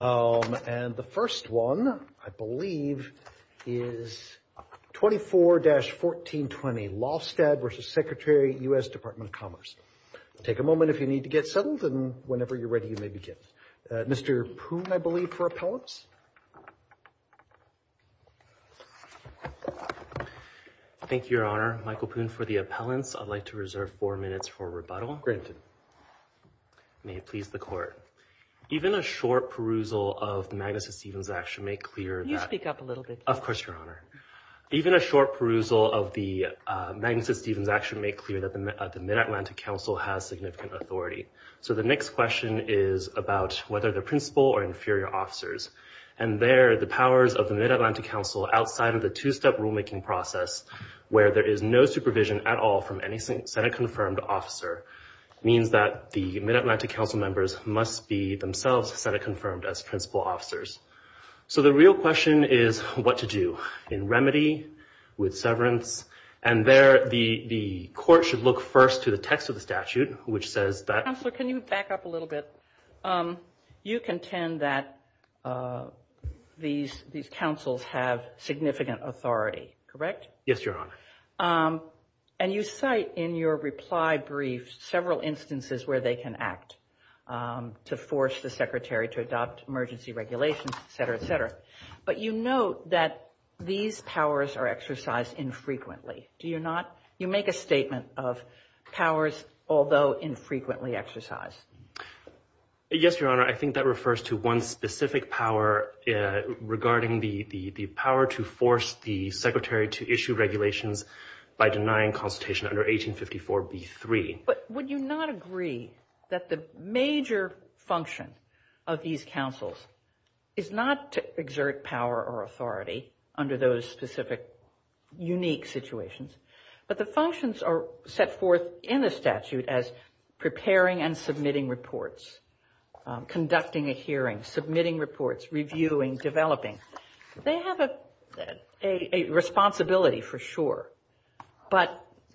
Take a moment if you need to get settled and whenever you're ready, you may begin Mr. Poon, I believe, for appellants. Thank you, Your Honor. Michael Poon for the appellants. I'd like to reserve four minutes for rebuttal. Granted. May it please the Court. Even a short perusal of the Magnuson-Stevens action may clear that the Mid-Atlantic Council has significant authority. So the next question is about whether they're principal or inferior officers. And there, the powers of the Mid-Atlantic Council outside of the two-step rulemaking process, where there is no supervision at all from any Senate-confirmed officer, means that the Mid-Atlantic Council members must be themselves Senate-confirmed as principal officers. So the real question is what to do in remedy, with severance, and there the Court should look first to the text of the statute, which says that... ...these councils have significant authority, correct? Yes, Your Honor. And you cite in your reply brief several instances where they can act to force the Secretary to adopt emergency regulations, etc., etc. But you note that these powers are exercised infrequently. Do you not? You make a statement of powers, although infrequently exercised. Yes, Your Honor. I think that refers to one specific power regarding the power to force the Secretary to issue regulations by denying consultation under 1854b3. But would you not agree that the major function of these councils is not to exert power or authority under those specific unique situations? But the functions are set forth in the statute as preparing and submitting reports, conducting a hearing, submitting reports, reviewing, developing. They have a responsibility for sure, but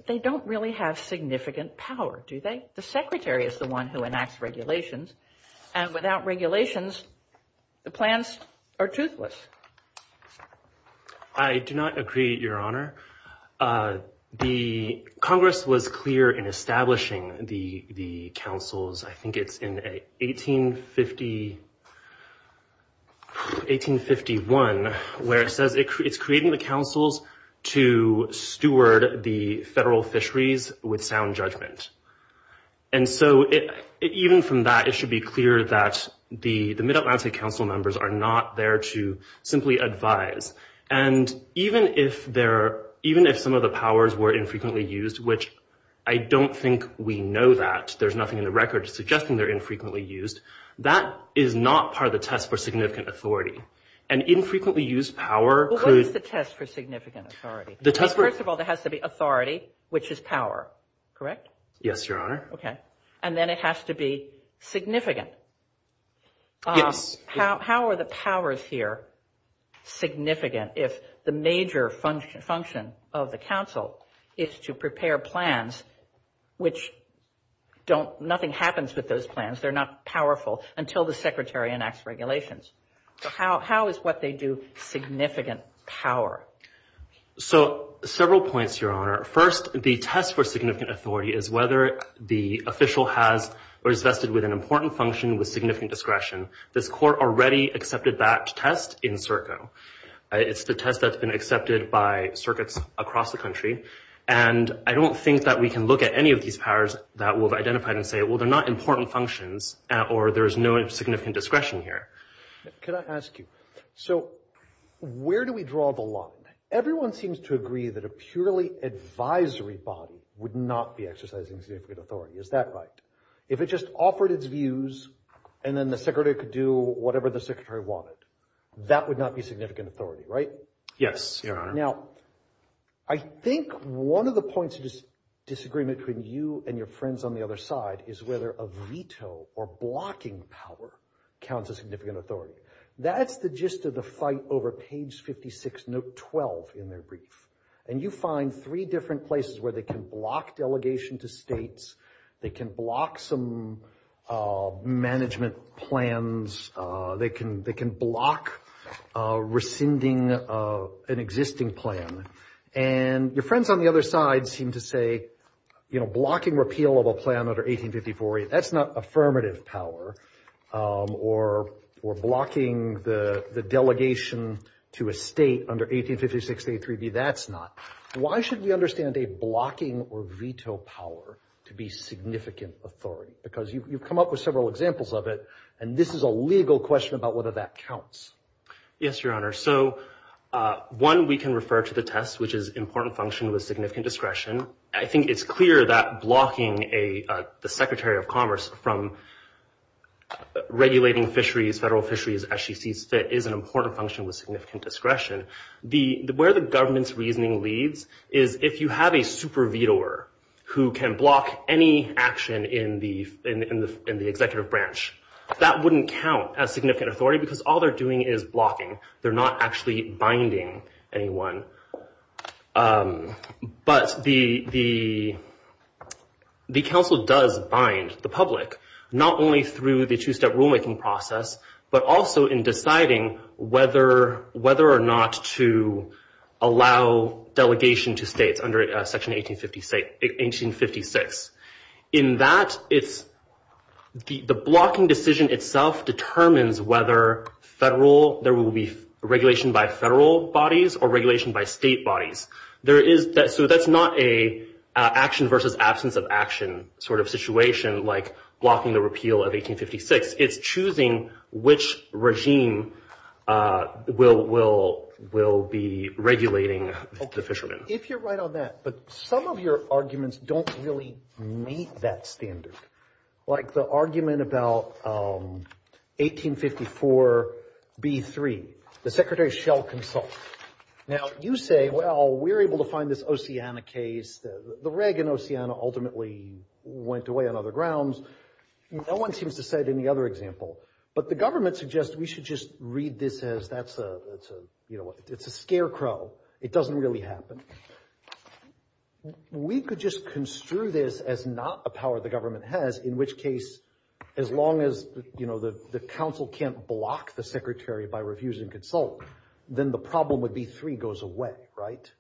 they don't really have significant power, do they? The Secretary is the one who enacts regulations, and without regulations, the plans are toothless. I do not agree, Your Honor. The Congress was clear in establishing the councils, I think it's in 1851, where it says it's creating the councils to steward the federal fisheries with sound judgment. And so even from that, it should be clear that the Mid-Atlantic Council members are not there to simply advise. And even if some of the powers were infrequently used, which I don't think we know that, there's nothing in the record suggesting they're infrequently used, that is not part of the test for significant authority. And infrequently used power could... What is the test for significant authority? First of all, there has to be authority, which is power, correct? Yes, Your Honor. Okay. And then it has to be significant. Yes. How are the powers here significant if the major function of the council is to prepare plans, which nothing happens with those plans, they're not powerful, until the Secretary enacts regulations? So how is what they do significant power? So several points, Your Honor. First, the test for significant authority is whether the official has or is vested with an important function with significant discretion. This Court already accepted that test in CERCO. It's the test that's been accepted by circuits across the country. And I don't think that we can look at any of these powers that we've identified and say, well, they're not important functions or there's no significant discretion here. Can I ask you, so where do we draw the line? Everyone seems to agree that a purely advisory body would not be exercising significant authority. Is that right? If it just offered its views and then the Secretary could do whatever the Secretary wanted, that would not be significant authority, right? Yes, Your Honor. Now, I think one of the points of disagreement between you and your friends on the other side is whether a veto or blocking power counts as significant authority. That's the gist of the fight over page 56, note 12 in their brief. And you find three different places where they can block delegation to states, they can block some management plans, they can block rescinding an existing plan. And your friends on the other side seem to say, you know, blocking repeal of a plan under 1854, that's not affirmative power. Or blocking the delegation to a state under 1856, that's not. Why should we understand a blocking or veto power to be significant authority? Because you've come up with several examples of it, and this is a legal question about whether that counts. Yes, Your Honor. So one, we can refer to the test, which is important function with significant discretion. I think it's clear that blocking the Secretary of Commerce from regulating fisheries, federal fisheries, as she sees fit, is an important function with significant discretion. Where the government's reasoning leads is if you have a super vetoer who can block any action in the executive branch, that wouldn't count as significant authority because all they're doing is blocking. They're not actually binding anyone. But the council does bind the public, not only through the two-step rulemaking process, but also in deciding whether or not to allow delegation to states under Section 1856. In that, the blocking decision itself determines whether there will be regulation by federal bodies or regulation by state bodies. So that's not an action versus absence of action sort of situation, like blocking the repeal of 1856. It's choosing which regime will be regulating the fishermen. If you're right on that, but some of your arguments don't really meet that standard. Like the argument about 1854b3, the Secretary shall consult. Now, you say, well, we're able to find this Oceana case. The reg in Oceana ultimately went away on other grounds. No one seems to cite any other example. But the government suggests we should just read this as that's a, you know, it's a scarecrow. It doesn't really happen. We could just construe this as not a power the government has, in which case, as long as, you know, the council can't block the secretary by refusing consult, then the problem would be three goes away. Right.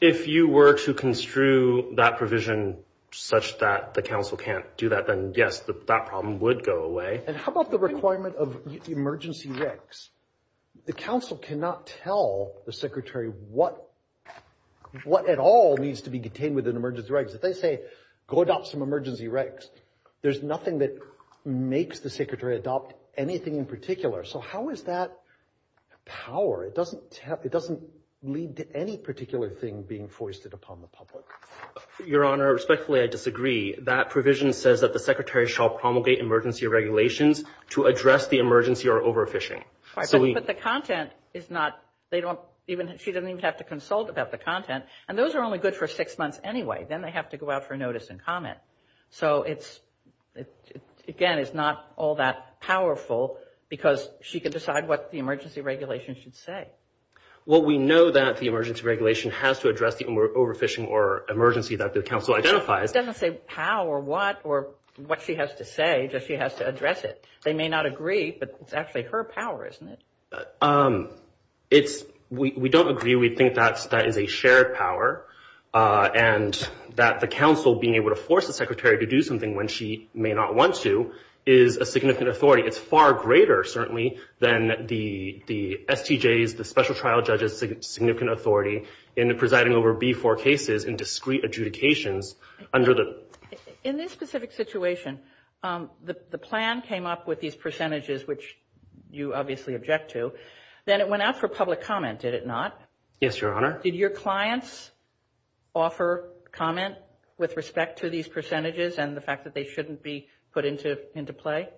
If you were to construe that provision such that the council can't do that, then yes, that problem would go away. And how about the requirement of emergency regs? The council cannot tell the secretary what at all needs to be contained within emergency regs. If they say go adopt some emergency regs, there's nothing that makes the secretary adopt anything in particular. So how is that power? It doesn't lead to any particular thing being foisted upon the public. Your Honor, respectfully, I disagree. That provision says that the secretary shall promulgate emergency regulations to address the emergency or overfishing. But the content is not, they don't even, she doesn't even have to consult about the content. And those are only good for six months anyway. Then they have to go out for notice and comment. So it's, again, it's not all that powerful because she can decide what the emergency regulation should say. Well, we know that the emergency regulation has to address the overfishing or emergency that the council identifies. But it doesn't say how or what or what she has to say, just she has to address it. They may not agree, but it's actually her power, isn't it? It's, we don't agree. We think that is a shared power and that the council being able to force the secretary to do something when she may not want to is a significant authority. It's far greater, certainly, than the STJs, the special trial judges' significant authority in presiding over B-4 cases in discrete adjudications under the. In this specific situation, the plan came up with these percentages, which you obviously object to. Then it went out for public comment, did it not? Yes, Your Honor. Did your clients offer comment with respect to these percentages and the fact that they shouldn't be put into play?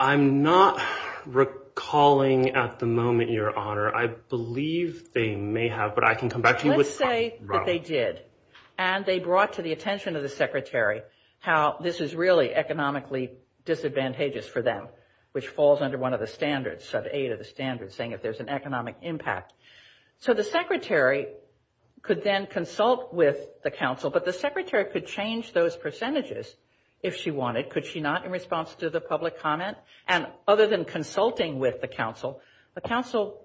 I'm not recalling at the moment, Your Honor. I believe they may have, but I can come back to you. Let's say that they did and they brought to the attention of the secretary how this is really economically disadvantageous for them, which falls under one of the standards, sub-8 of the standards, saying if there's an economic impact. So the secretary could then consult with the council, but the secretary could change those percentages if she wanted. Could she not in response to the public comment? And other than consulting with the council, the council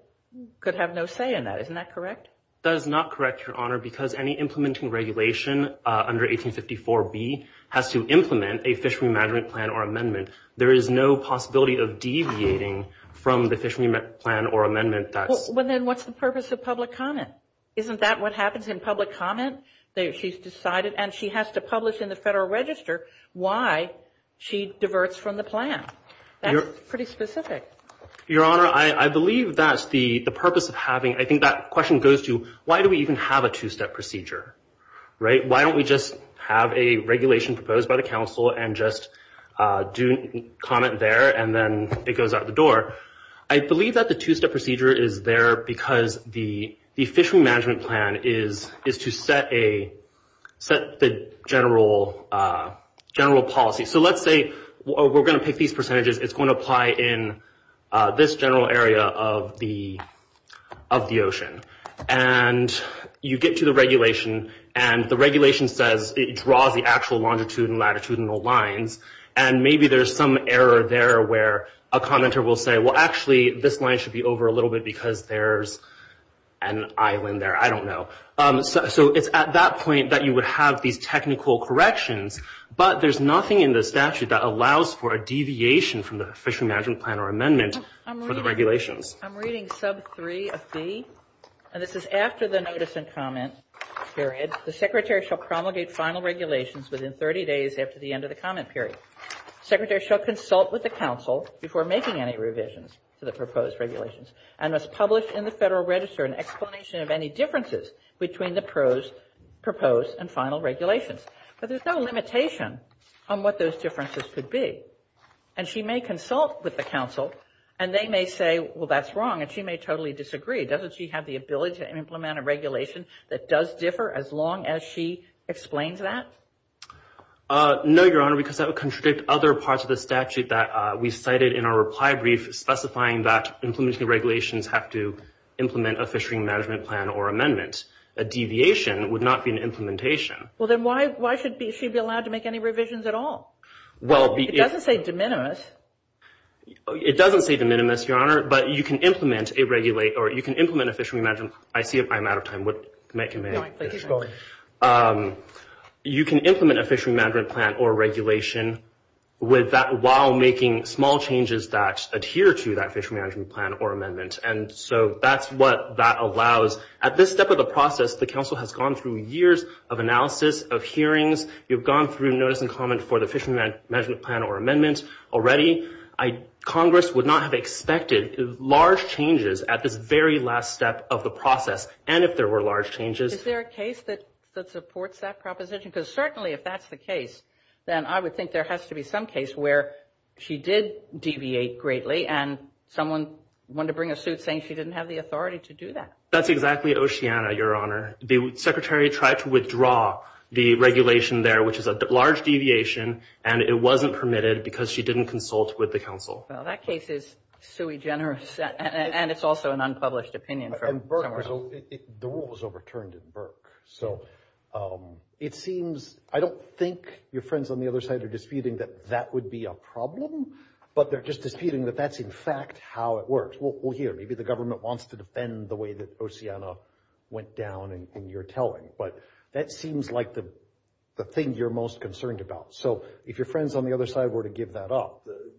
could have no say in that. Isn't that correct? That is not correct, Your Honor, because any implementing regulation under 1854B has to implement a fishery management plan or amendment. There is no possibility of deviating from the fishery plan or amendment. Well, then what's the purpose of public comment? Isn't that what happens in public comment? She's decided and she has to publish in the Federal Register why she diverts from the plan. That's pretty specific. Your Honor, I believe that's the purpose of having, I think that question goes to why do we even have a two-step procedure, right? Why don't we just have a regulation proposed by the council and just do comment there and then it goes out the door? I believe that the two-step procedure is there because the fishery management plan is to set the general policy. So let's say we're going to pick these percentages. It's going to apply in this general area of the ocean. And you get to the regulation, and the regulation says it draws the actual longitude and latitudinal lines, and maybe there's some error there where a commenter will say, well, actually, this line should be over a little bit because there's an island there. I don't know. So it's at that point that you would have these technical corrections, but there's nothing in the statute that allows for a deviation from the fishery management plan or amendment for the regulations. I'm reading sub 3 of B, and this is after the notice and comment period. The secretary shall promulgate final regulations within 30 days after the end of the comment period. The secretary shall consult with the council before making any revisions to the proposed regulations and must publish in the Federal Register an explanation of any differences between the proposed and final regulations. But there's no limitation on what those differences could be. And she may consult with the council, and they may say, well, that's wrong, and she may totally disagree. Doesn't she have the ability to implement a regulation that does differ as long as she explains that? No, Your Honor, because that would contradict other parts of the statute that we cited in our reply brief specifying that implementing regulations have to implement a fishery management plan or amendment. A deviation would not be an implementation. Well, then why should she be allowed to make any revisions at all? Well, it doesn't say de minimis. It doesn't say de minimis, Your Honor, but you can implement a fishery management. I see I'm out of time. You can implement a fishery management plan or regulation with that while making small changes that adhere to that fishery management plan or amendment. And so that's what that allows. At this step of the process, the council has gone through years of analysis, of hearings. You've gone through notice and comment for the fishery management plan or amendment already. Congress would not have expected large changes at this very last step of the process, and if there were large changes. Is there a case that supports that proposition? Because certainly if that's the case, then I would think there has to be some case where she did deviate greatly, and someone wanted to bring a suit saying she didn't have the authority to do that. That's exactly Oceana, Your Honor. The secretary tried to withdraw the regulation there, which is a large deviation, and it wasn't permitted because she didn't consult with the council. Well, that case is sui generis, and it's also an unpublished opinion. The rule was overturned in Burke. So it seems I don't think your friends on the other side are disputing that that would be a problem, but they're just disputing that that's, in fact, how it works. Maybe the government wants to defend the way that Oceana went down in your telling, but that seems like the thing you're most concerned about. So if your friends on the other side were to give that up, it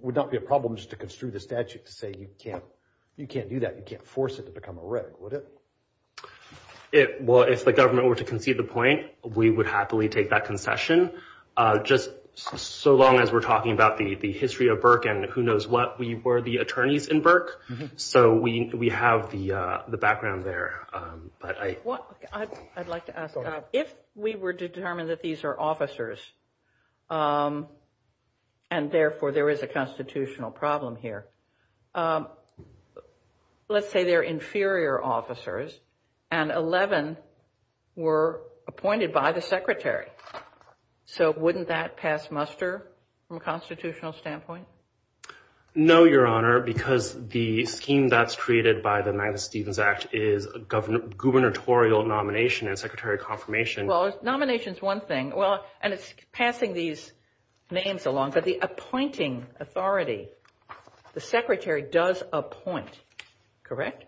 would not be a problem just to construe the statute to say you can't do that, you can't force it to become a reg, would it? Well, if the government were to concede the point, we would happily take that concession. Just so long as we're talking about the history of Burke and who knows what, we were the attorneys in Burke. So we have the background there. I'd like to ask, if we were determined that these are officers, and therefore there is a constitutional problem here, let's say they're inferior officers, and 11 were appointed by the secretary. So wouldn't that pass muster from a constitutional standpoint? No, Your Honor, because the scheme that's created by the Magnus Stevens Act is a gubernatorial nomination and secretary confirmation. Well, nomination is one thing, and it's passing these names along, but the appointing authority, the secretary does appoint, correct?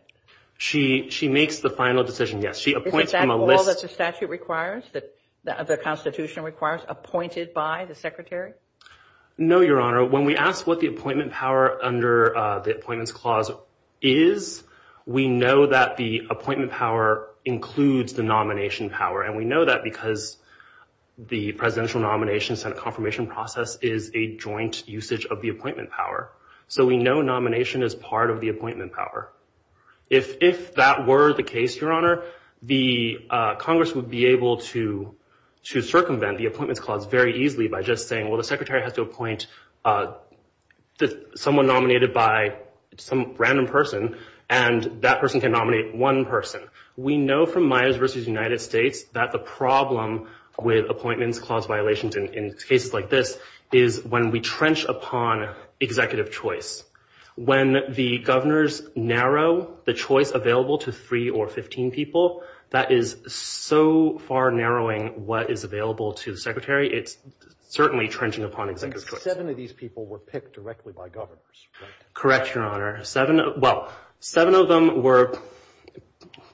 She makes the final decision, yes. Is that all that the statute requires, that the Constitution requires, appointed by the secretary? No, Your Honor. When we ask what the appointment power under the Appointments Clause is, we know that the appointment power includes the nomination power, and we know that because the presidential nomination and confirmation process is a joint usage of the appointment power. So we know nomination is part of the appointment power. If that were the case, Your Honor, the Congress would be able to circumvent the Appointments Clause very easily by just saying, well, the secretary has to appoint someone nominated by some random person, and that person can nominate one person. We know from Myers v. United States that the problem with Appointments Clause violations in cases like this is when we trench upon executive choice. When the governors narrow the choice available to three or 15 people, that is so far narrowing what is available to the secretary. It's certainly trenching upon executive choice. Seven of these people were picked directly by governors, right? Correct, Your Honor. Well,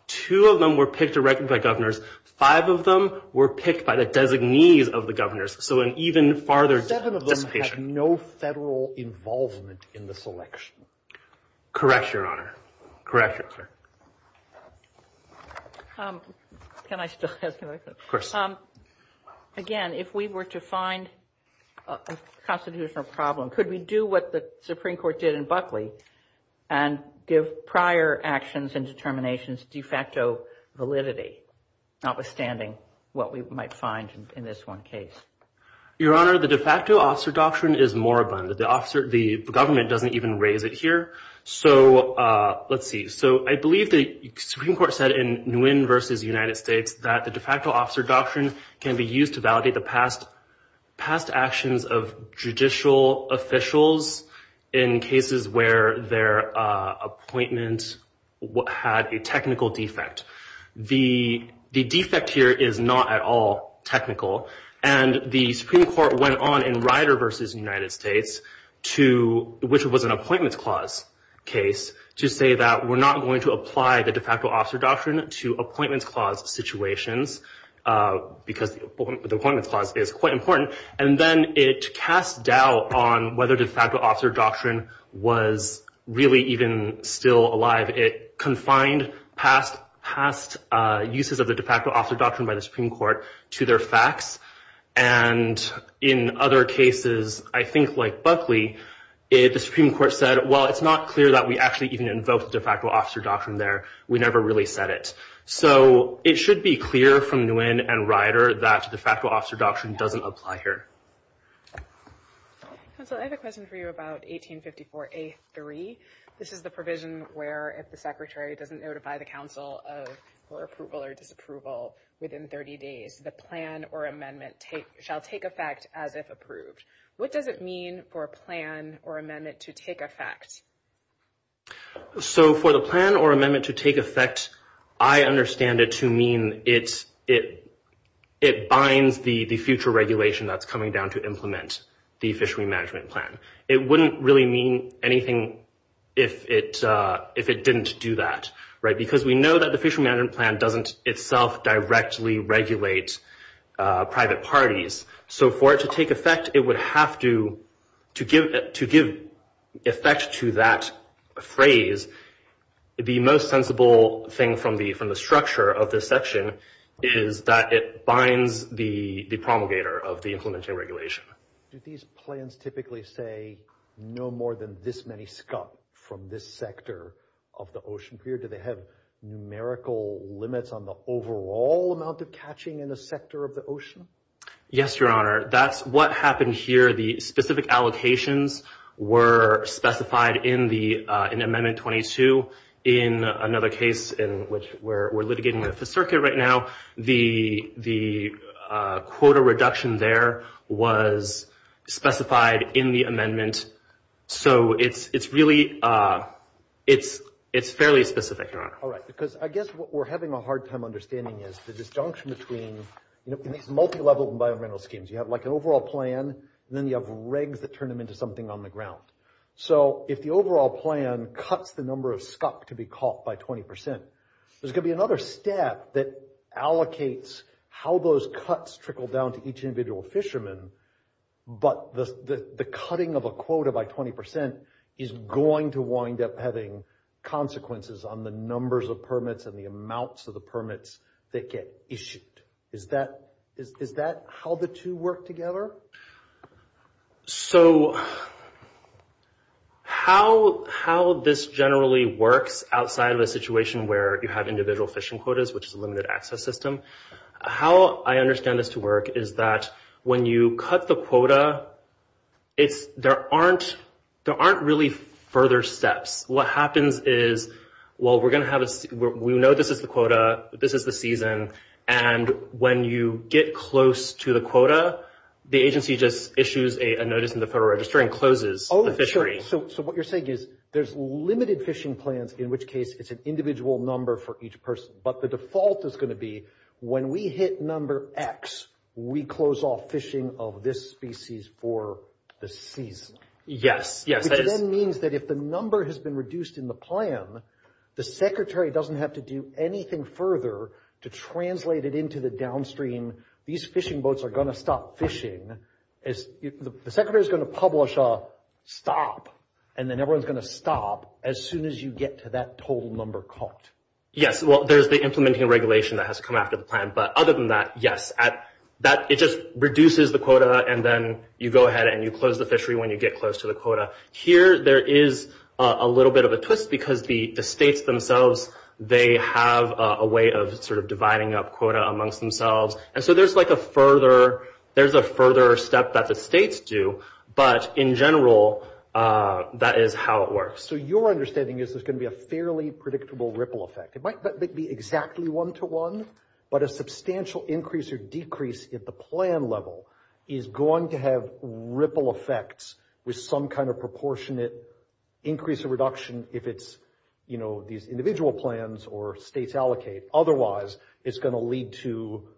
two of them were picked directly by governors. Five of them were picked by the designees of the governors. So an even farther dissipation. Seven of them had no federal involvement in the selection. Correct, Your Honor. Correct, Your Honor. Can I still ask a question? Of course. Again, if we were to find a constitutional problem, could we do what the Supreme Court did in Buckley and give prior actions and determinations de facto validity, notwithstanding what we might find in this one case? Your Honor, the de facto officer doctrine is more abundant. The government doesn't even raise it here. So let's see. So I believe the Supreme Court said in Nguyen v. United States that the de facto officer doctrine can be used to validate the past actions of judicial officials in cases where their appointment had a technical defect. The defect here is not at all technical. And the Supreme Court went on in Ryder v. United States, which was an appointments clause case, to say that we're not going to apply the de facto officer doctrine to appointments clause situations, because the appointments clause is quite important. And then it cast doubt on whether de facto officer doctrine was really even still alive. It confined past uses of the de facto officer doctrine by the Supreme Court to their facts. And in other cases, I think like Buckley, the Supreme Court said, well, it's not clear that we actually even invoked the de facto officer doctrine there. We never really said it. So it should be clear from Nguyen and Ryder that the de facto officer doctrine doesn't apply here. Counsel, I have a question for you about 1854A3. This is the provision where if the secretary doesn't notify the counsel of her approval or disapproval within 30 days, the plan or amendment shall take effect as if approved. What does it mean for a plan or amendment to take effect? So for the plan or amendment to take effect, I understand it to mean it binds the future regulation that's coming down to implement the fishery management plan. It wouldn't really mean anything if it didn't do that, right, because we know that the fishery management plan doesn't itself directly regulate private parties. So for it to take effect, it would have to give effect to that phrase. The most sensible thing from the structure of this section is that it binds the promulgator of the implementation regulation. Do these plans typically say no more than this many scum from this sector of the ocean? Do they have numerical limits on the overall amount of catching in a sector of the ocean? Yes, Your Honor. That's what happened here. The specific allocations were specified in Amendment 22. In another case in which we're litigating with the circuit right now, the quota reduction there was specified in the amendment. So it's really fairly specific, Your Honor. All right, because I guess what we're having a hard time understanding is the disjunction between, in these multilevel environmental schemes, you have like an overall plan, and then you have regs that turn them into something on the ground. So if the overall plan cuts the number of scup to be caught by 20 percent, there's going to be another step that allocates how those cuts trickle down to each individual fisherman. But the cutting of a quota by 20 percent is going to wind up having consequences on the numbers of permits and the amounts of the permits that get issued. Is that how the two work together? So how this generally works outside of a situation where you have individual fishing quotas, which is a limited access system, how I understand this to work is that when you cut the quota, there aren't really further steps. What happens is, well, we know this is the quota, this is the season, and when you get close to the quota, the agency just issues a notice in the Federal Register and closes the fishery. Oh, sure. So what you're saying is there's limited fishing plans, in which case it's an individual number for each person. But the default is going to be when we hit number X, we close off fishing of this species for the season. Yes, yes. Which then means that if the number has been reduced in the plan, the secretary doesn't have to do anything further to translate it into the downstream, these fishing boats are going to stop fishing. The secretary's going to publish a stop, and then everyone's going to stop as soon as you get to that total number cut. Yes, well, there's the implementing regulation that has to come after the plan. But other than that, yes, it just reduces the quota, and then you go ahead and you close the fishery when you get close to the quota. Here, there is a little bit of a twist because the states themselves, they have a way of sort of dividing up quota amongst themselves. And so there's a further step that the states do, but in general, that is how it works. So your understanding is there's going to be a fairly predictable ripple effect. It might not be exactly one-to-one, but a substantial increase or decrease at the plan level is going to have ripple effects with some kind of proportionate increase or reduction, if it's these individual plans or states allocate. Otherwise, it's going to lead to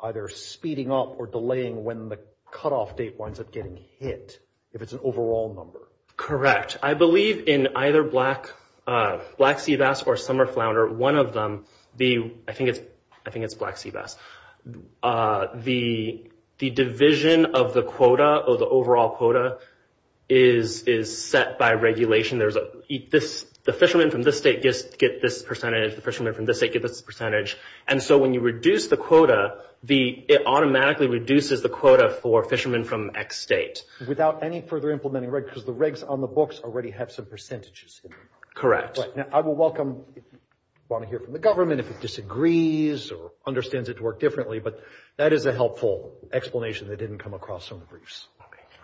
either speeding up or delaying when the cutoff date winds up getting hit, if it's an overall number. Correct. I believe in either Black Sea Bass or Summer Flounder, one of them, I think it's Black Sea Bass, the division of the quota or the overall quota is set by regulation. The fishermen from this state get this percentage. The fishermen from this state get this percentage. And so when you reduce the quota, it automatically reduces the quota for fishermen from X state. Without any further implementing regs, because the regs on the books already have some percentages. Correct. I will welcome if you want to hear from the government, if it disagrees or understands it to work differently. But that is a helpful explanation that didn't come across in the briefs.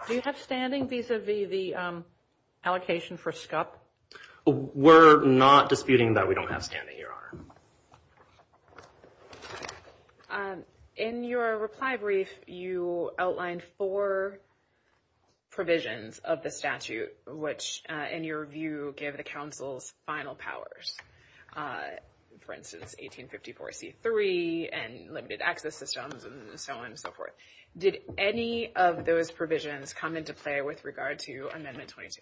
Do you have standing vis-a-vis the allocation for SCUP? We're not disputing that we don't have standing, Your Honor. In your reply brief, you outlined four provisions of the statute, which, in your view, give the council's final powers. For instance, 1854C3 and limited access systems and so on and so forth. Did any of those provisions come into play with regard to Amendment 22?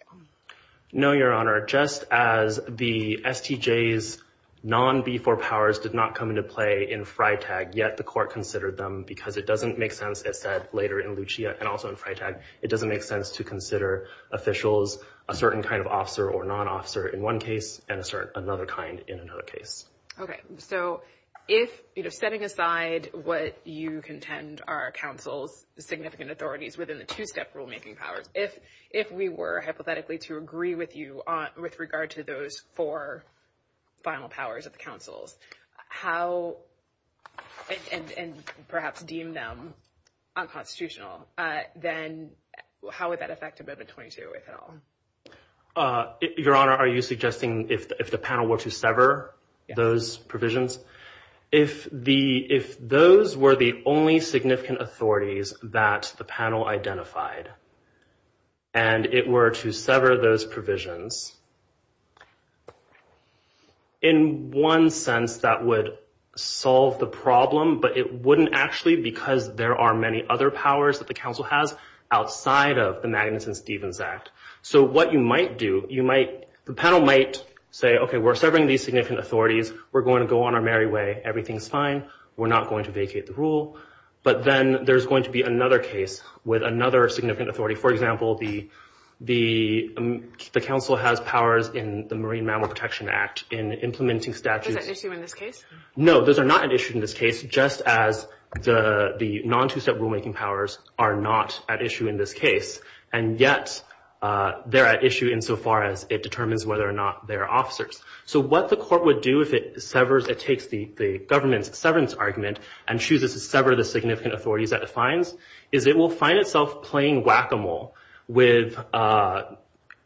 No, Your Honor. Just as the STJ's non-B4 powers did not come into play in FriTag, yet the court considered them. Because it doesn't make sense, as said later in Lucia and also in FriTag, it doesn't make sense to consider officials a certain kind of officer or non-officer in one case and another kind in another case. Okay. So if, you know, setting aside what you contend are council's significant authorities within the two-step rulemaking powers, if we were hypothetically to agree with you with regard to those four final powers of the council's, how and perhaps deem them unconstitutional, then how would that affect Amendment 22, if at all? Your Honor, are you suggesting if the panel were to sever those provisions? If those were the only significant authorities that the panel identified and it were to sever those provisions, in one sense that would solve the problem, but it wouldn't actually because there are many other powers that the council has outside of the Magnuson-Stevens Act. So what you might do, you might, the panel might say, okay, we're severing these significant authorities. We're going to go on our merry way. Everything's fine. We're not going to vacate the rule. But then there's going to be another case with another significant authority. For example, the council has powers in the Marine Mammal Protection Act in implementing statutes. Those are at issue in this case? No, those are not at issue in this case, just as the non-two-step rulemaking powers are not at issue in this case, and yet they're at issue insofar as it determines whether or not they're officers. So what the court would do if it severs, it takes the government's severance argument and chooses to sever the significant authorities that it finds is it will find itself playing whack-a-mole with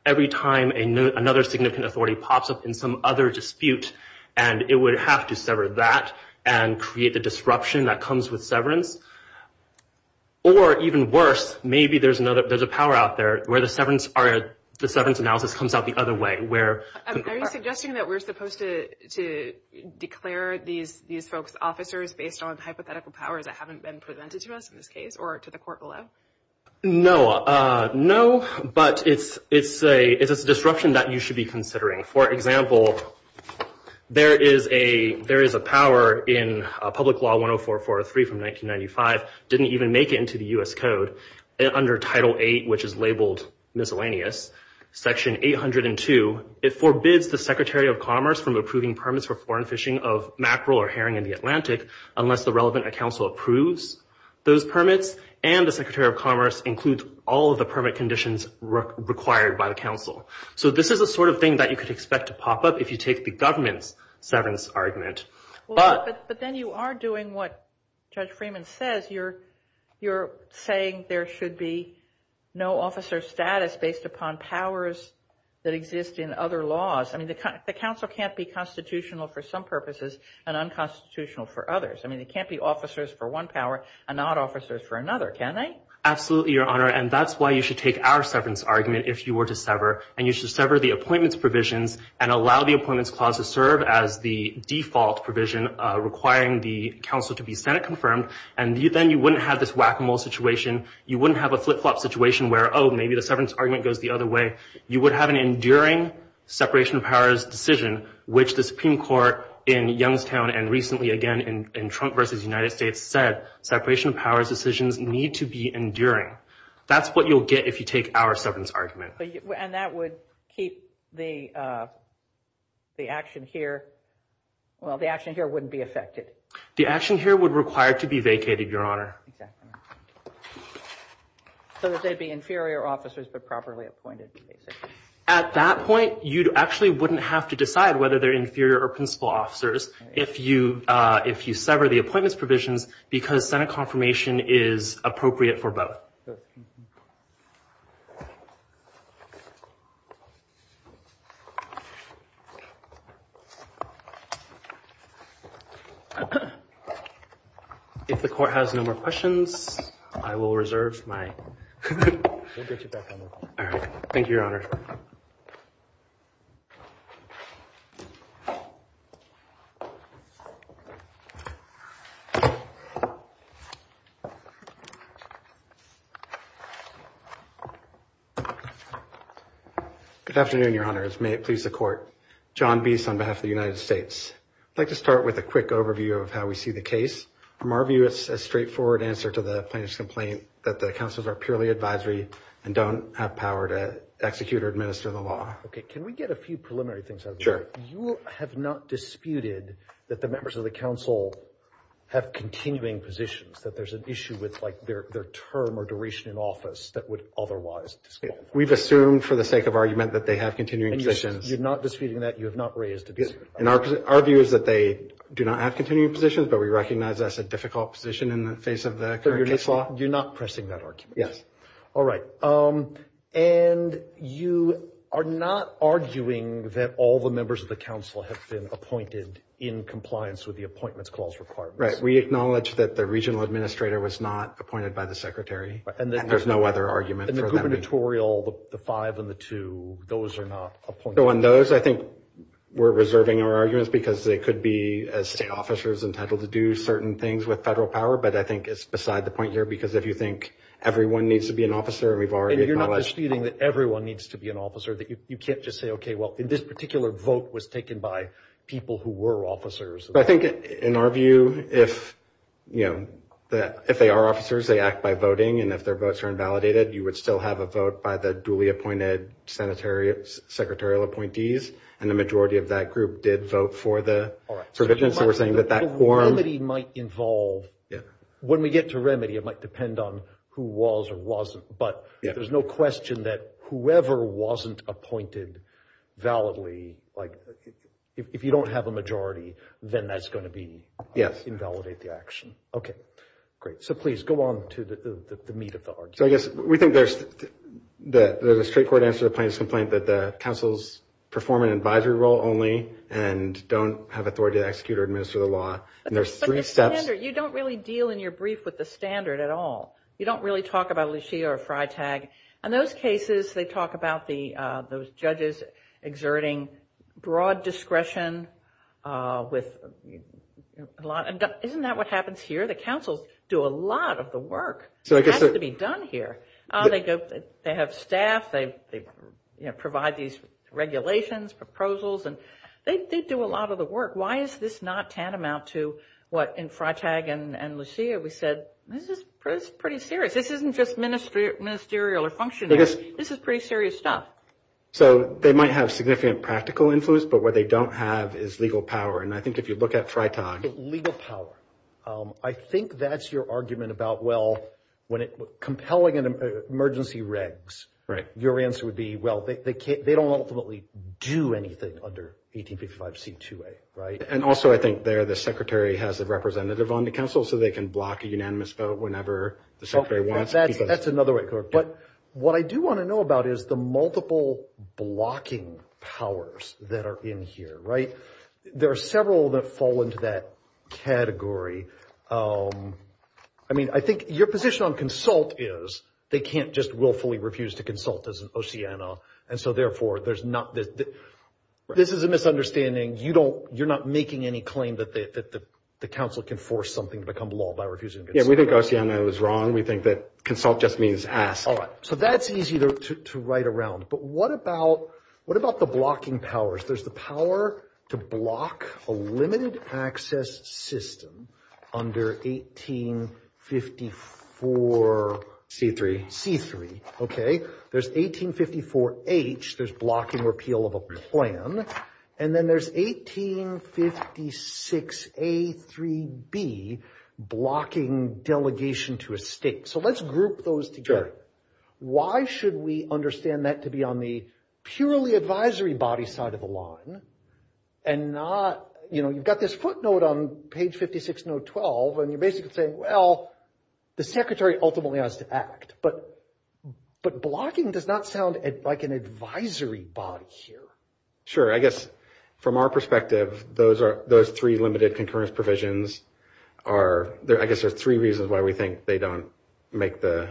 every time another significant authority pops up in some other dispute, and it would have to sever that and create the disruption that comes with severance. Or even worse, maybe there's a power out there where the severance analysis comes out the other way. Are you suggesting that we're supposed to declare these folks officers based on hypothetical powers that haven't been presented to us in this case or to the court below? No, but it's a disruption that you should be considering. For example, there is a power in Public Law 104-403 from 1995, didn't even make it into the U.S. Code, under Title VIII, which is labeled miscellaneous, Section 802. It forbids the Secretary of Commerce from approving permits for foreign fishing of mackerel or herring in the Atlantic unless the relevant council approves those permits, and the Secretary of Commerce includes all of the permit conditions required by the council. So this is the sort of thing that you could expect to pop up if you take the government's severance argument. But then you are doing what Judge Freeman says. You're saying there should be no officer status based upon powers that exist in other laws. I mean, the council can't be constitutional for some purposes and unconstitutional for others. I mean, they can't be officers for one power and not officers for another, can they? Absolutely, Your Honor, and that's why you should take our severance argument if you were to sever, and you should sever the appointments provisions and allow the appointments clause to serve as the default provision requiring the council to be Senate-confirmed, and then you wouldn't have this whack-a-mole situation. You wouldn't have a flip-flop situation where, oh, maybe the severance argument goes the other way. You would have an enduring separation of powers decision, which the Supreme Court in Youngstown and recently again in Trump v. United States said separation of powers decisions need to be enduring. That's what you'll get if you take our severance argument. And that would keep the action here. Well, the action here wouldn't be affected. The action here would require to be vacated, Your Honor. Exactly. So that they'd be inferior officers but properly appointed. At that point, you actually wouldn't have to decide whether they're inferior or principal officers if you sever the appointments provisions because Senate confirmation is appropriate for both. If the Court has no more questions, I will reserve my time. Thank you, Your Honor. Good afternoon, Your Honor. May it please the Court. John Biese on behalf of the United States. I'd like to start with a quick overview of how we see the case. From our view, it's a straightforward answer to the plaintiff's complaint that the counsels are purely advisory and don't have power to execute or administer the law. Okay. Can we get a few preliminary things out of the way? Sure. Your Honor, you have not disputed that the members of the counsel have continuing positions, that there's an issue with, like, their term or duration in office that would otherwise disqualify them. We've assumed for the sake of argument that they have continuing positions. You're not disputing that? You have not raised a dispute? Our view is that they do not have continuing positions, but we recognize that's a difficult position in the face of the current case law. So you're not pressing that argument? Yes. All right. And you are not arguing that all the members of the counsel have been appointed in compliance with the appointments clause requirements? We acknowledge that the regional administrator was not appointed by the secretary, and there's no other argument for that. And the gubernatorial, the five and the two, those are not appointed? On those, I think we're reserving our arguments because they could be, as state officers, entitled to do certain things with federal power, but I think it's beside the point here, because if you think everyone needs to be an officer, and we've already acknowledged that. And you're not disputing that everyone needs to be an officer, that you can't just say, okay, well, this particular vote was taken by people who were officers? I think, in our view, if, you know, if they are officers, they act by voting, and if their votes are invalidated, you would still have a vote by the duly appointed senatorial, secretarial appointees, and the majority of that group did vote for the provision. So we're saying that that form. Remedy might involve, when we get to remedy, it might depend on who was or wasn't, but there's no question that whoever wasn't appointed validly, like, if you don't have a majority, then that's going to be. Yes. Invalidate the action. Okay, great. So please, go on to the meat of the argument. So I guess we think there's a straightforward answer to the plaintiff's complaint, that the councils perform an advisory role only and don't have authority to execute or administer the law. And there's three steps. But, Mr. Kander, you don't really deal in your brief with the standard at all. You don't really talk about Lichia or FriTag. In those cases, they talk about those judges exerting broad discretion with a lot. Isn't that what happens here? The councils do a lot of the work that has to be done here. They have staff. They provide these regulations, proposals, and they do a lot of the work. Why is this not tantamount to what, in FriTag and Lichia, we said, this is pretty serious. This isn't just ministerial or functionaries. This is pretty serious stuff. So they might have significant practical influence, but what they don't have is legal power. And I think if you look at FriTag. Legal power. I think that's your argument about, well, compelling emergency regs. Right. Your answer would be, well, they don't ultimately do anything under 1855C2A, right? And also, I think there, the secretary has a representative on the council, so they can block a unanimous vote whenever the secretary wants. That's another way. But what I do want to know about is the multiple blocking powers that are in here, right? There are several that fall into that category. I mean, I think your position on consult is they can't just willfully refuse to consult as an OCEANA, and so, therefore, there's not this. This is a misunderstanding. You're not making any claim that the council can force something to become law by refusing to consult. Yeah, we think OCEANA is wrong. We think that consult just means ask. All right. So that's easy to write around. But what about the blocking powers? There's the power to block a limited access system under 1854C3, okay? There's 1854H. There's blocking repeal of a plan. And then there's 1856A3B, blocking delegation to a state. So let's group those together. Why should we understand that to be on the purely advisory body side of the line and not, you know, you've got this footnote on page 56, note 12, and you're basically saying, well, the secretary ultimately has to act. But blocking does not sound like an advisory body here. Sure. I guess from our perspective, those three limited concurrence provisions are, I guess, there's three reasons why we think they don't make the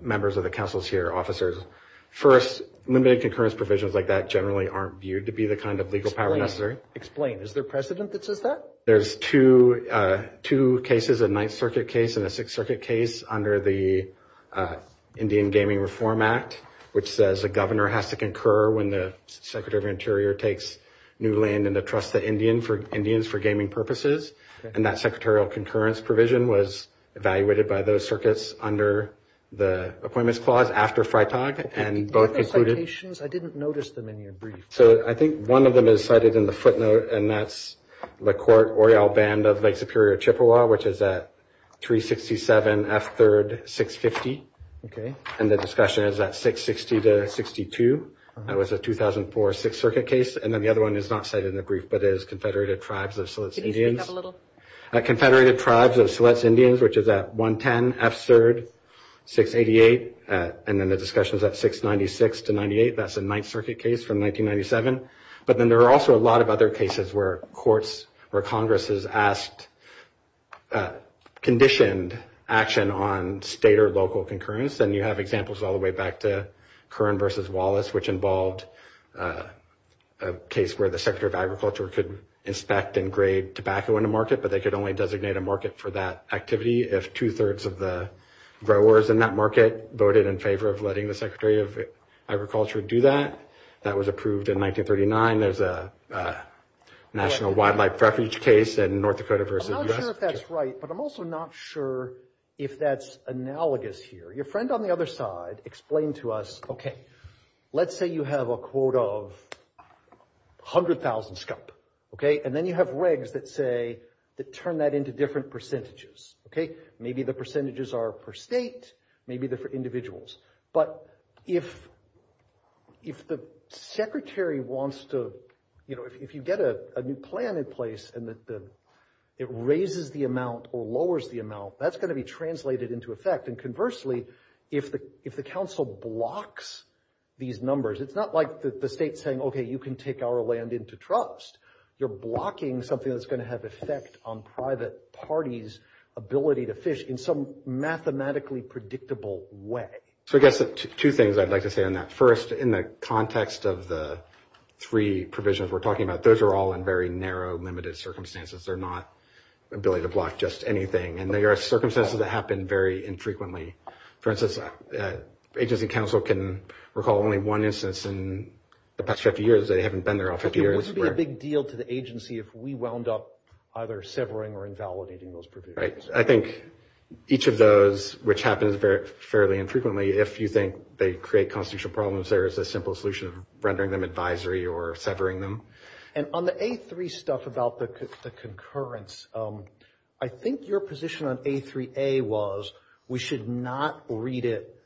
members of the councils here officers. First, limited concurrence provisions like that generally aren't viewed to be the kind of legal power necessary. Explain. Is there precedent that says that? There's two cases, a Ninth Circuit case and a Sixth Circuit case under the Indian Gaming Reform Act, which says a governor has to concur when the secretary of interior takes new land in the trust of Indians for gaming purposes. And that secretarial concurrence provision was evaluated by those circuits under the appointments clause after FriTag. And both included. I didn't notice them in your brief. So I think one of them is cited in the footnote, and that's the court Oriel Band of Lake Superior Chippewa, which is at 367F3-650. Okay. And the discussion is at 660-62. That was a 2004 Sixth Circuit case. And then the other one is not cited in the brief, but it is Confederated Tribes of Siletz Indians. Can you speak up a little? Confederated Tribes of Siletz Indians, which is at 110F3-688. And then the discussion is at 696-98. That's a Ninth Circuit case from 1997. But then there are also a lot of other cases where courts, where Congress has asked conditioned action on state or local concurrence. And you have examples all the way back to Curran v. Wallace, which involved a case where the Secretary of Agriculture could inspect and grade tobacco in a market, but they could only designate a market for that activity if two-thirds of the growers in that market voted in favor of letting the Secretary of Agriculture do that. That was approved in 1939. There's a National Wildlife Refuge case in North Dakota v. U.S. I'm not sure if that's right, but I'm also not sure if that's analogous here. Your friend on the other side explained to us, okay, let's say you have a court of 100,000 scope, okay? And then you have regs that say, that turn that into different percentages, okay? Maybe the percentages are per state, maybe they're for individuals. But if the Secretary wants to, you know, if you get a new plan in place and it raises the amount or lowers the amount, that's going to be translated into effect. And conversely, if the council blocks these numbers, it's not like the state's saying, okay, you can take our land into trust. You're blocking something that's going to have effect on private parties' ability to fish in some mathematically predictable way. So I guess two things I'd like to say on that. First, in the context of the three provisions we're talking about, those are all in very narrow, limited circumstances. They're not ability to block just anything. And they are circumstances that happen very infrequently. For instance, agency council can recall only one instance in the past 50 years. They haven't been there all 50 years. It wouldn't be a big deal to the agency if we wound up either severing or invalidating those provisions. Right. I think each of those, which happens fairly infrequently, if you think they create constitutional problems, there is a simple solution of rendering them advisory or severing them. And on the A3 stuff about the concurrence, I think your position on A3A was we should not read it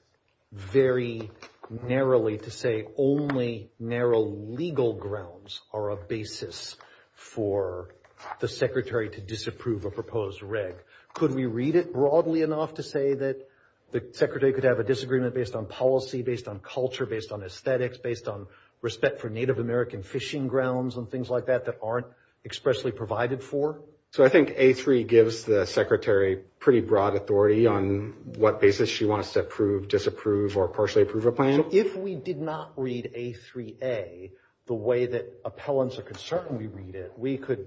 very narrowly to say only narrow legal grounds are a basis for the secretary to disapprove a proposed reg. Could we read it broadly enough to say that the secretary could have a disagreement based on policy, based on culture, based on aesthetics, based on respect for Native American fishing grounds and things like that that aren't expressly provided for? So I think A3 gives the secretary pretty broad authority on what basis she wants to approve, disapprove, or partially approve a plan. If we did not read A3A the way that appellants are concerned we read it, we could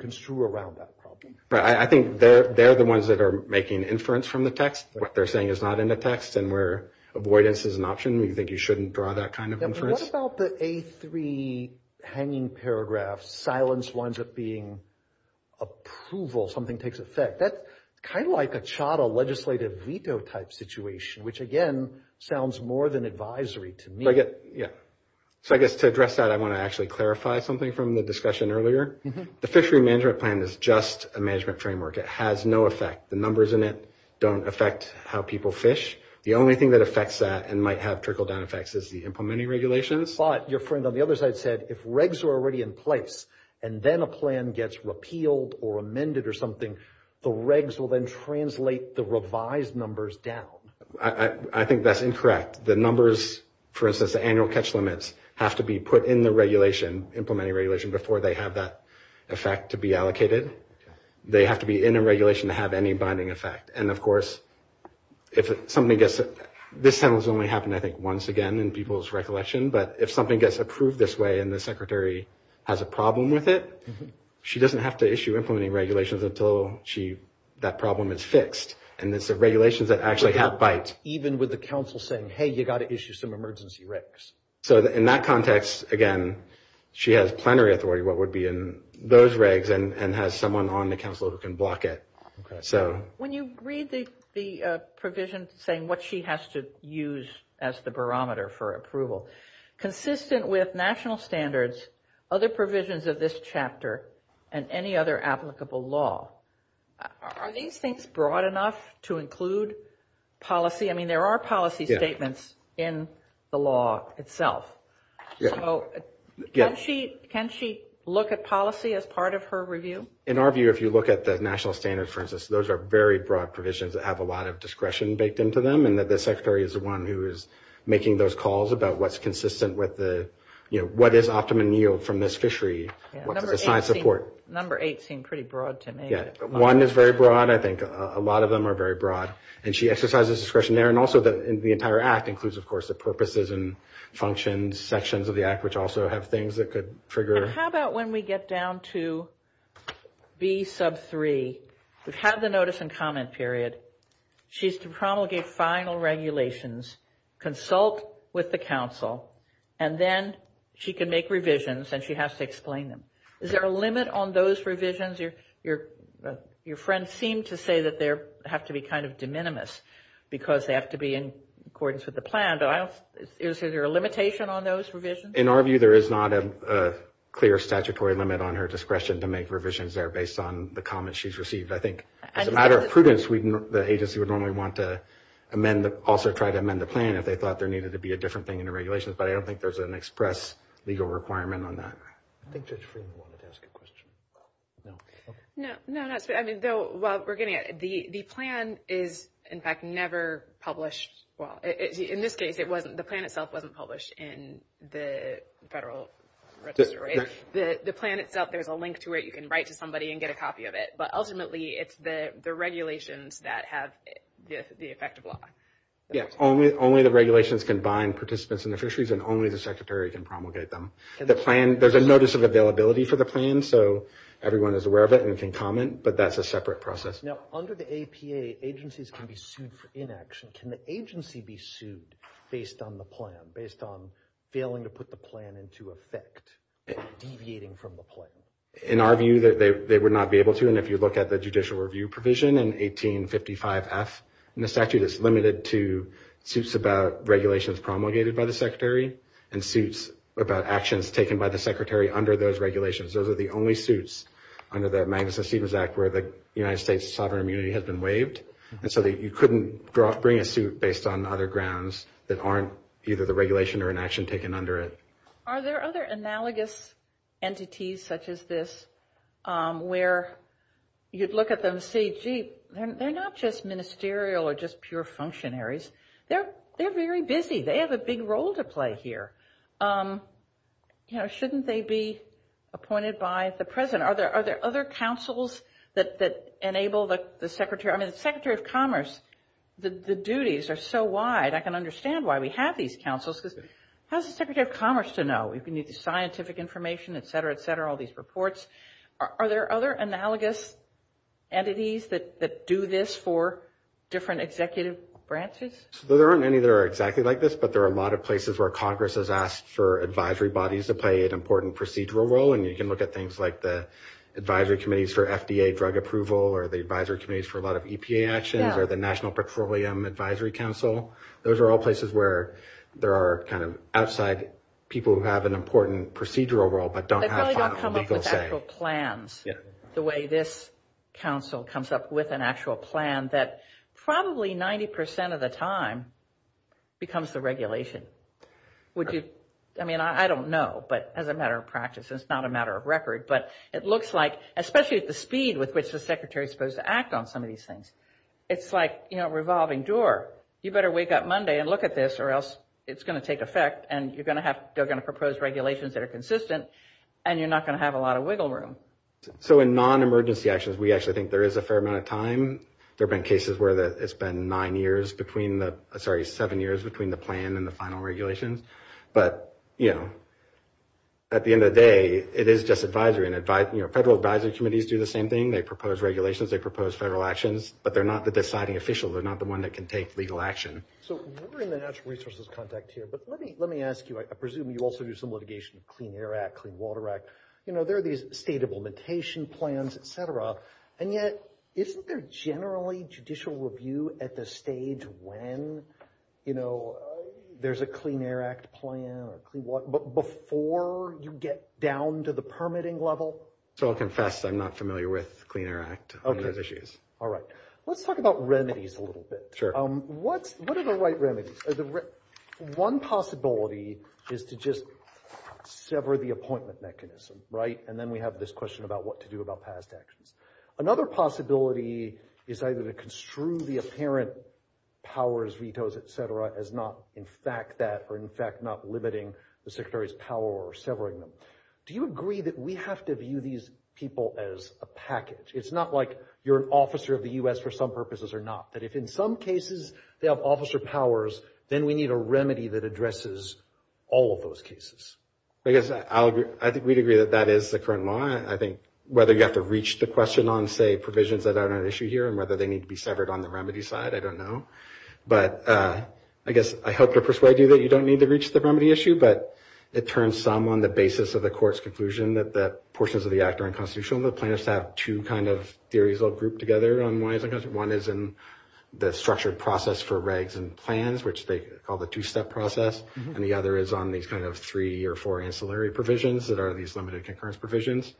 construe around that problem. Right. I think they're the ones that are making inference from the text. What they're saying is not in the text and where avoidance is an option, we think you shouldn't draw that kind of inference. What about the A3 hanging paragraph, silence winds up being approval, something takes effect? That's kind of like a CHATA legislative veto type situation, which again sounds more than advisory to me. Yeah. So I guess to address that I want to actually clarify something from the discussion earlier. The fishery management plan is just a management framework. It has no effect. The numbers in it don't affect how people fish. The only thing that affects that and might have trickle-down effects is the implementing regulations. But your friend on the other side said if regs are already in place and then a plan gets repealed or amended or something, the regs will then translate the revised numbers down. I think that's incorrect. For instance, the annual catch limits have to be put in the regulation, implementing regulation, before they have that effect to be allocated. They have to be in a regulation to have any binding effect. And, of course, if something gets – this only happened, I think, once again in people's recollection. But if something gets approved this way and the secretary has a problem with it, she doesn't have to issue implementing regulations until that problem is fixed. And it's the regulations that actually have bite. Even with the council saying, hey, you've got to issue some emergency regs. So in that context, again, she has plenary authority, what would be in those regs, and has someone on the council who can block it. Okay. When you read the provision saying what she has to use as the barometer for approval, consistent with national standards, other provisions of this chapter, and any other applicable law, are these things broad enough to include policy? I mean, there are policy statements in the law itself. So can she look at policy as part of her review? In our view, if you look at the national standards, for instance, those are very broad provisions that have a lot of discretion baked into them, and that the secretary is the one who is making those calls about what's consistent with the – you know, what is optimum yield from this fishery? What's the science support? Number eight seemed pretty broad to me. One is very broad. I think a lot of them are very broad. And she exercises discretion there. And also the entire act includes, of course, the purposes and functions, sections of the act, which also have things that could trigger. How about when we get down to B sub 3? We've had the notice and comment period. She's to promulgate final regulations, consult with the council, and then she can make revisions, and she has to explain them. Is there a limit on those revisions? Your friend seemed to say that they have to be kind of de minimis because they have to be in accordance with the plan. But is there a limitation on those revisions? In our view, there is not a clear statutory limit on her discretion to make revisions there based on the comments she's received. I think as a matter of prudence, the agency would normally want to amend – also try to amend the plan if they thought there needed to be a different thing in the regulations. But I don't think there's an express legal requirement on that. I think Judge Freeman wanted to ask a question. No, while we're getting at it, the plan is in fact never published. In this case, the plan itself wasn't published in the federal register. The plan itself, there's a link to it. You can write to somebody and get a copy of it. But ultimately, it's the regulations that have the effect of law. Only the regulations can bind participants in the fisheries, and only the secretary can promulgate them. The plan – there's a notice of availability for the plan, so everyone is aware of it and can comment. But that's a separate process. Now, under the APA, agencies can be sued for inaction. Can the agency be sued based on the plan, based on failing to put the plan into effect, deviating from the plan? In our view, they would not be able to. And if you look at the judicial review provision in 1855F, and the statute is limited to suits about regulations promulgated by the secretary and suits about actions taken by the secretary under those regulations, those are the only suits under the Magnuson-Stevens Act where the United States' sovereign immunity has been waived. And so you couldn't bring a suit based on other grounds that aren't either the regulation or inaction taken under it. Are there other analogous entities such as this where you'd look at them and say, gee, they're not just ministerial or just pure functionaries. They're very busy. They have a big role to play here. You know, shouldn't they be appointed by the president? Are there other councils that enable the secretary? I mean, the Secretary of Commerce, the duties are so wide. I can understand why we have these councils because how is the Secretary of Commerce to know? We need the scientific information, et cetera, et cetera, all these reports. Are there other analogous entities that do this for different executive branches? There aren't any that are exactly like this, but there are a lot of places where Congress has asked for advisory bodies to play an important procedural role, and you can look at things like the advisory committees for FDA drug approval or the advisory committees for a lot of EPA actions or the National Petroleum Advisory Council. Those are all places where there are kind of outside people who have an important procedural role but don't have legal say. There are actual plans, the way this council comes up with an actual plan, that probably 90 percent of the time becomes the regulation. I mean, I don't know, but as a matter of practice, it's not a matter of record, but it looks like, especially at the speed with which the secretary is supposed to act on some of these things, it's like a revolving door. You better wake up Monday and look at this or else it's going to take effect and they're going to propose regulations that are consistent and you're not going to have a lot of wiggle room. So in non-emergency actions, we actually think there is a fair amount of time. There have been cases where it's been seven years between the plan and the final regulations, but at the end of the day, it is just advisory. Federal advisory committees do the same thing. They propose regulations. They propose federal actions, but they're not the deciding official. They're not the one that can take legal action. So we're in the natural resources context here, but let me ask you, I presume you also do some litigation of Clean Air Act, Clean Water Act. You know, there are these state implementation plans, et cetera, and yet isn't there generally judicial review at the stage when, you know, there's a Clean Air Act plan or Clean Water Act, but before you get down to the permitting level? So I'll confess I'm not familiar with Clean Air Act on those issues. Okay. All right. Let's talk about remedies a little bit. Sure. What are the right remedies? One possibility is to just sever the appointment mechanism, right? And then we have this question about what to do about past actions. Another possibility is either to construe the apparent powers, vetoes, et cetera, as not in fact that or in fact not limiting the Secretary's power or severing them. Do you agree that we have to view these people as a package? It's not like you're an officer of the U.S. for some purposes or not, that if in some cases they have officer powers, then we need a remedy that addresses all of those cases. I guess I think we'd agree that that is the current law. I think whether you have to reach the question on, say, provisions that are an issue here and whether they need to be severed on the remedy side, I don't know. But I guess I hope to persuade you that you don't need to reach the remedy issue, but it turns some on the basis of the court's conclusion that the portions of the act are unconstitutional. The plaintiffs have two kind of theories all grouped together on why it's unconstitutional. One is in the structured process for regs and plans, which they call the two-step process. And the other is on these kind of three or four ancillary provisions that are these limited concurrence provisions.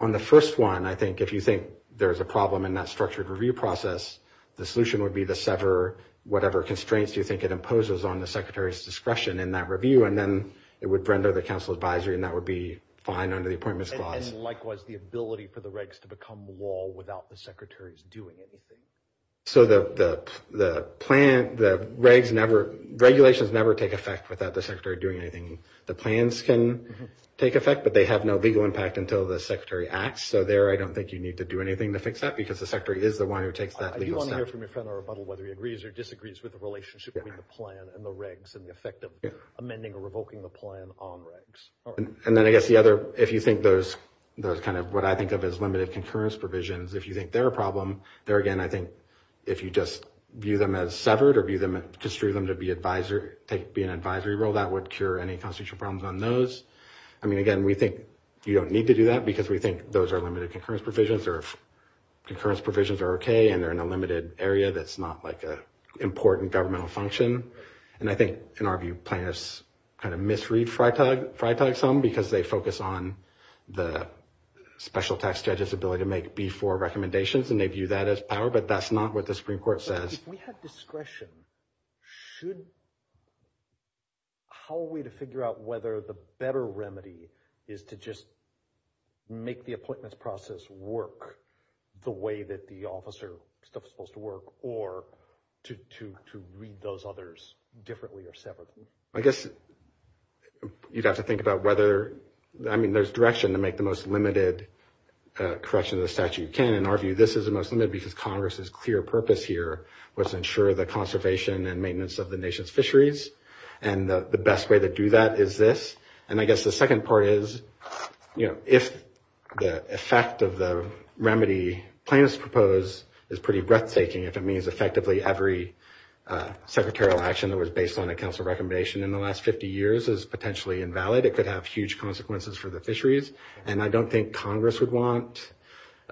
On the first one, I think if you think there's a problem in that structured review process, the solution would be to sever whatever constraints you think it imposes on the Secretary's discretion in that review, and then it would render the counsel advisory, and that would be fine under the Appointments Clause. And likewise, the ability for the regs to become law without the Secretary's doing anything. So the plan – the regs never – regulations never take effect without the Secretary doing anything. The plans can take effect, but they have no legal impact until the Secretary acts. So there I don't think you need to do anything to fix that because the Secretary is the one who takes that legal step. I do want to hear from your friend on rebuttal whether he agrees or disagrees with the relationship between the plan and the regs and the effect of amending or revoking the plan on regs. And then I guess the other – if you think those kind of what I think of as limited concurrence provisions, if you think they're a problem, there again I think if you just view them as severed or view them – construe them to be an advisory role, that would cure any constitutional problems on those. I mean, again, we think you don't need to do that because we think those are limited concurrence provisions or if concurrence provisions are okay and they're in a limited area that's not like an important governmental function. And I think in our view plaintiffs kind of misread Fritag some because they focus on the special tax judge's ability to make B-4 recommendations and they view that as power, but that's not what the Supreme Court says. If we had discretion, should – how are we to figure out whether the better remedy is to just make the appointments process work the way that the officer stuff is supposed to work or to read those others differently or separately? I guess you'd have to think about whether – I mean, there's direction to make the most limited correction of the statute. You can't, in our view, this is the most limited because Congress's clear purpose here was to ensure the conservation and maintenance of the nation's fisheries and the best way to do that is this. And I guess the second part is if the effect of the remedy plaintiffs propose is pretty breathtaking, if it means effectively every secretarial action that was based on a council recommendation in the last 50 years is potentially invalid, it could have huge consequences for the fisheries, and I don't think Congress would want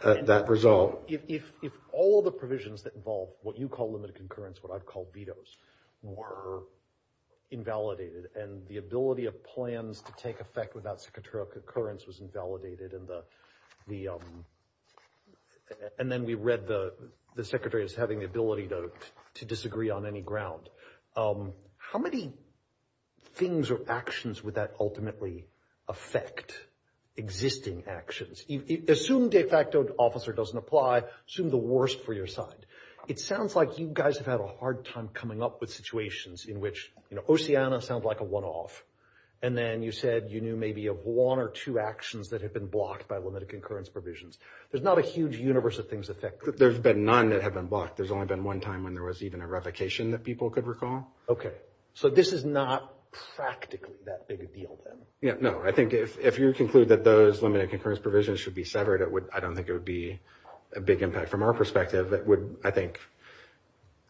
that result. If all of the provisions that involve what you call limited concurrence, what I'd call vetoes, were invalidated and the ability of plans to take effect without secretarial concurrence was invalidated and the – and then we read the secretary as having the ability to disagree on any ground, how many things or actions would that ultimately affect existing actions? Assume de facto officer doesn't apply, assume the worst for your side. It sounds like you guys have had a hard time coming up with situations in which, you know, Oceana sounds like a one-off, and then you said you knew maybe of one or two actions that had been blocked by limited concurrence provisions. There's not a huge universe of things that affect – There's been none that have been blocked. There's only been one time when there was even a revocation that people could recall. Okay. So this is not practically that big a deal then. Yeah, no. I think if you conclude that those limited concurrence provisions should be severed, I don't think it would be a big impact from our perspective. It would, I think,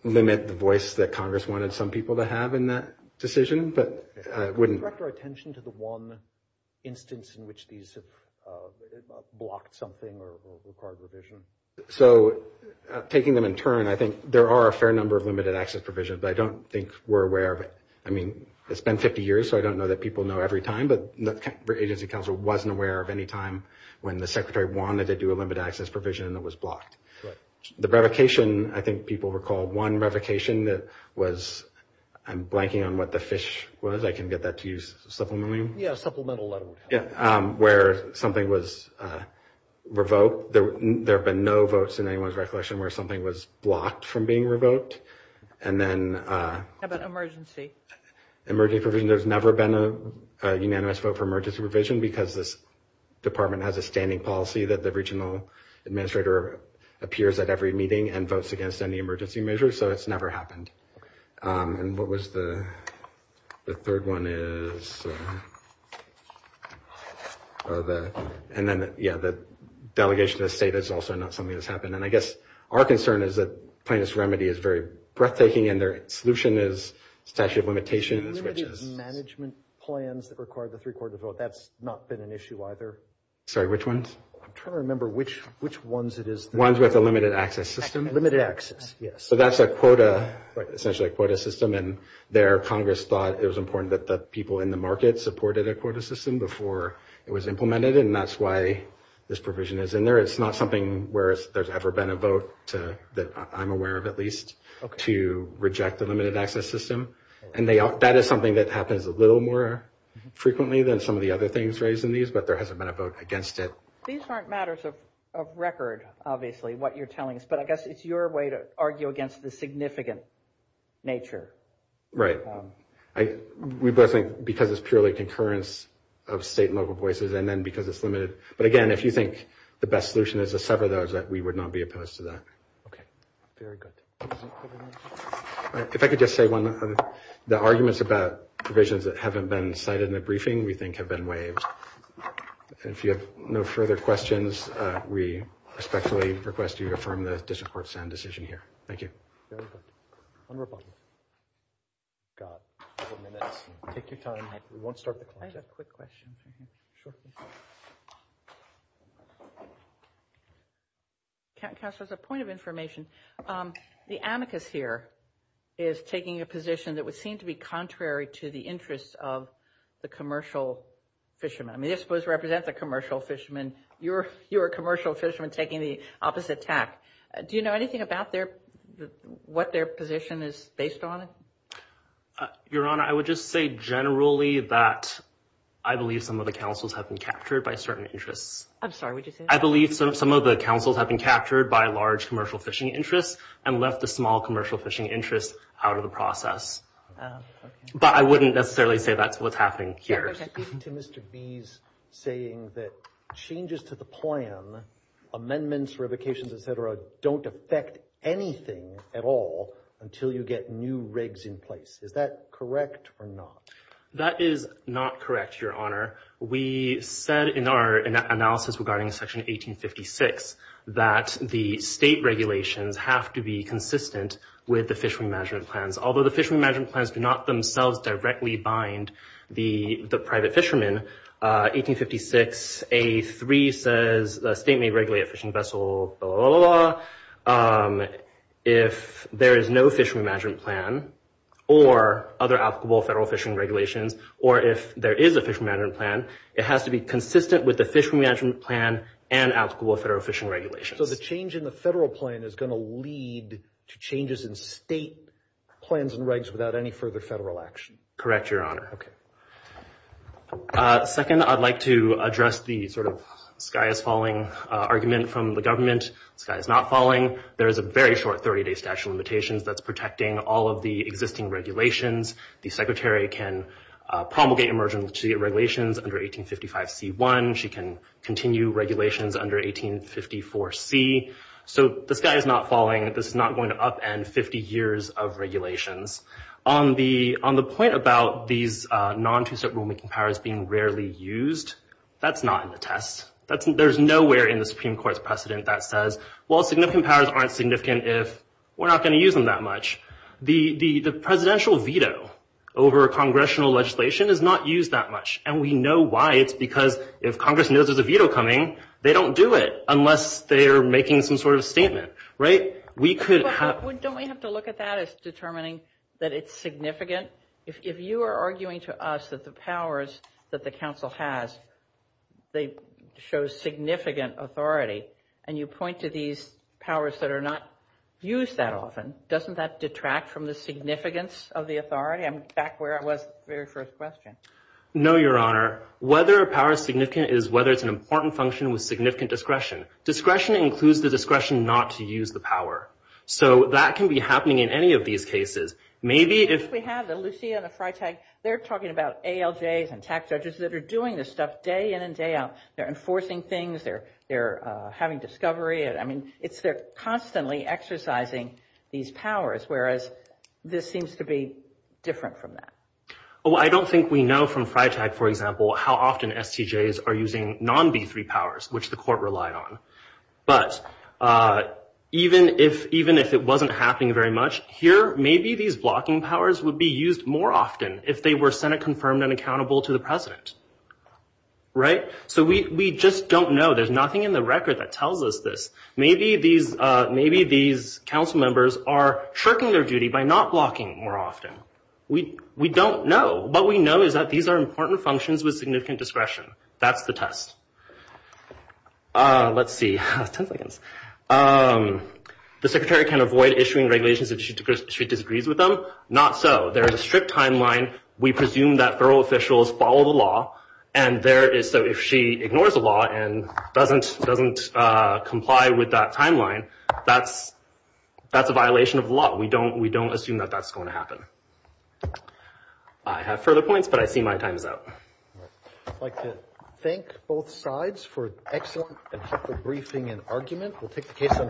limit the voice that Congress wanted some people to have in that decision, but it wouldn't – Could you direct our attention to the one instance in which these have blocked something or required revision? So taking them in turn, I think there are a fair number of limited access provisions, but I don't think we're aware of it. I mean, it's been 50 years, so I don't know that people know every time, but the agency counsel wasn't aware of any time when the secretary wanted to do a limited access provision and it was blocked. Right. The revocation, I think people recall one revocation that was – I'm blanking on what the fish was. I can get that to you supplementarily. Yeah, a supplemental letter would help. Yeah, where something was revoked. There have been no votes in anyone's recollection where something was blocked from being revoked. And then – How about emergency? Emergency provision, there's never been a unanimous vote for emergency provision because this department has a standing policy that the regional administrator appears at every meeting and votes against any emergency measure, so it's never happened. And what was the – the third one is – and then, yeah, the delegation to the state is also not something that's happened. And I guess our concern is that plaintiff's remedy is very breathtaking and their solution is statute of limitations, which is – Limited management plans that require the three-quarter vote, that's not been an issue either. Sorry, which ones? I'm trying to remember which ones it is. The ones with the limited access system? Limited access, yes. So that's a quota, essentially a quota system, and there Congress thought it was important that the people in the market supported a quota system before it was implemented, and that's why this provision is in there. It's not something where there's ever been a vote, that I'm aware of at least, to reject the limited access system. And that is something that happens a little more frequently than some of the other things raised in these, but there hasn't been a vote against it. These aren't matters of record, obviously, what you're telling us, but I guess it's your way to argue against the significant nature. Right. We both think because it's purely concurrence of state and local voices and then because it's limited. But again, if you think the best solution is to sever those, we would not be opposed to that. Okay. Very good. If I could just say one, the arguments about provisions that haven't been cited in the briefing we think have been waived. If you have no further questions, we respectfully request you to affirm the district court's decision here. Thank you. Very good. One more question. We've got a couple minutes. Take your time. We won't start the clock yet. I have a quick question. Sure. Counsel, as a point of information, the amicus here is taking a position that would seem to be contrary to the interests of the commercial fishermen. I mean, they're supposed to represent the commercial fishermen. You're a commercial fisherman taking the opposite tack. Do you know anything about what their position is based on? Your Honor, I would just say generally that I believe some of the counsels have been captured by certain interests. I'm sorry, what did you say? I believe some of the counsels have been captured by large commercial fishing interests and left the small commercial fishing interests out of the process. But I wouldn't necessarily say that's what's happening here. Mr. B's saying that changes to the plan, amendments, revocations, et cetera, don't affect anything at all until you get new regs in place. Is that correct or not? That is not correct, Your Honor. We said in our analysis regarding Section 1856 that the state regulations have to be consistent with the fishery management plans, although the fishery management plans do not themselves directly bind the private fishermen. 1856A3 says the state may regulate a fishing vessel, blah, blah, blah, blah. If there is no fishery management plan or other applicable federal fishing regulations or if there is a fishery management plan, it has to be consistent with the fishery management plan and applicable federal fishing regulations. So the change in the federal plan is going to lead to changes in state plans and regs without any further federal action? Correct, Your Honor. Okay. Second, I'd like to address the sort of sky is falling argument from the government. The sky is not falling. There is a very short 30-day statute of limitations that's protecting all of the existing regulations. The Secretary can promulgate emergency regulations under 1855C1. She can continue regulations under 1854C. So the sky is not falling. This is not going to upend 50 years of regulations. On the point about these non-two-step rulemaking powers being rarely used, that's not in the test. There's nowhere in the Supreme Court's precedent that says, well, significant powers aren't significant if we're not going to use them that much. The presidential veto over congressional legislation is not used that much, and we know why. It's because if Congress knows there's a veto coming, they don't do it unless they are making some sort of statement. Don't we have to look at that as determining that it's significant? If you are arguing to us that the powers that the council has, they show significant authority, and you point to these powers that are not used that often, doesn't that detract from the significance of the authority? I'm back where I was at the very first question. No, Your Honor. Whether a power is significant is whether it's an important function with significant discretion. Discretion includes the discretion not to use the power. So that can be happening in any of these cases. Maybe if we have the Lucia and the Freitag, they're talking about ALJs and tax judges that are doing this stuff day in and day out. They're enforcing things. They're having discovery. I mean, it's they're constantly exercising these powers, whereas this seems to be different from that. Oh, I don't think we know from Freitag, for example, how often STJs are using non-B3 powers, which the court relied on. But even if it wasn't happening very much, here, maybe these blocking powers would be used more often if they were Senate-confirmed and accountable to the president. Right? So we just don't know. There's nothing in the record that tells us this. Maybe these council members are shirking their duty by not blocking more often. We don't know. What we know is that these are important functions with significant discretion. That's the test. Let's see. The secretary can avoid issuing regulations if she disagrees with them? Not so. There is a strict timeline. We presume that federal officials follow the law. So if she ignores the law and doesn't comply with that timeline, that's a violation of the law. We don't assume that that's going to happen. I have further points, but I see my time is up. I'd like to thank both sides for excellent and helpful briefing and argument.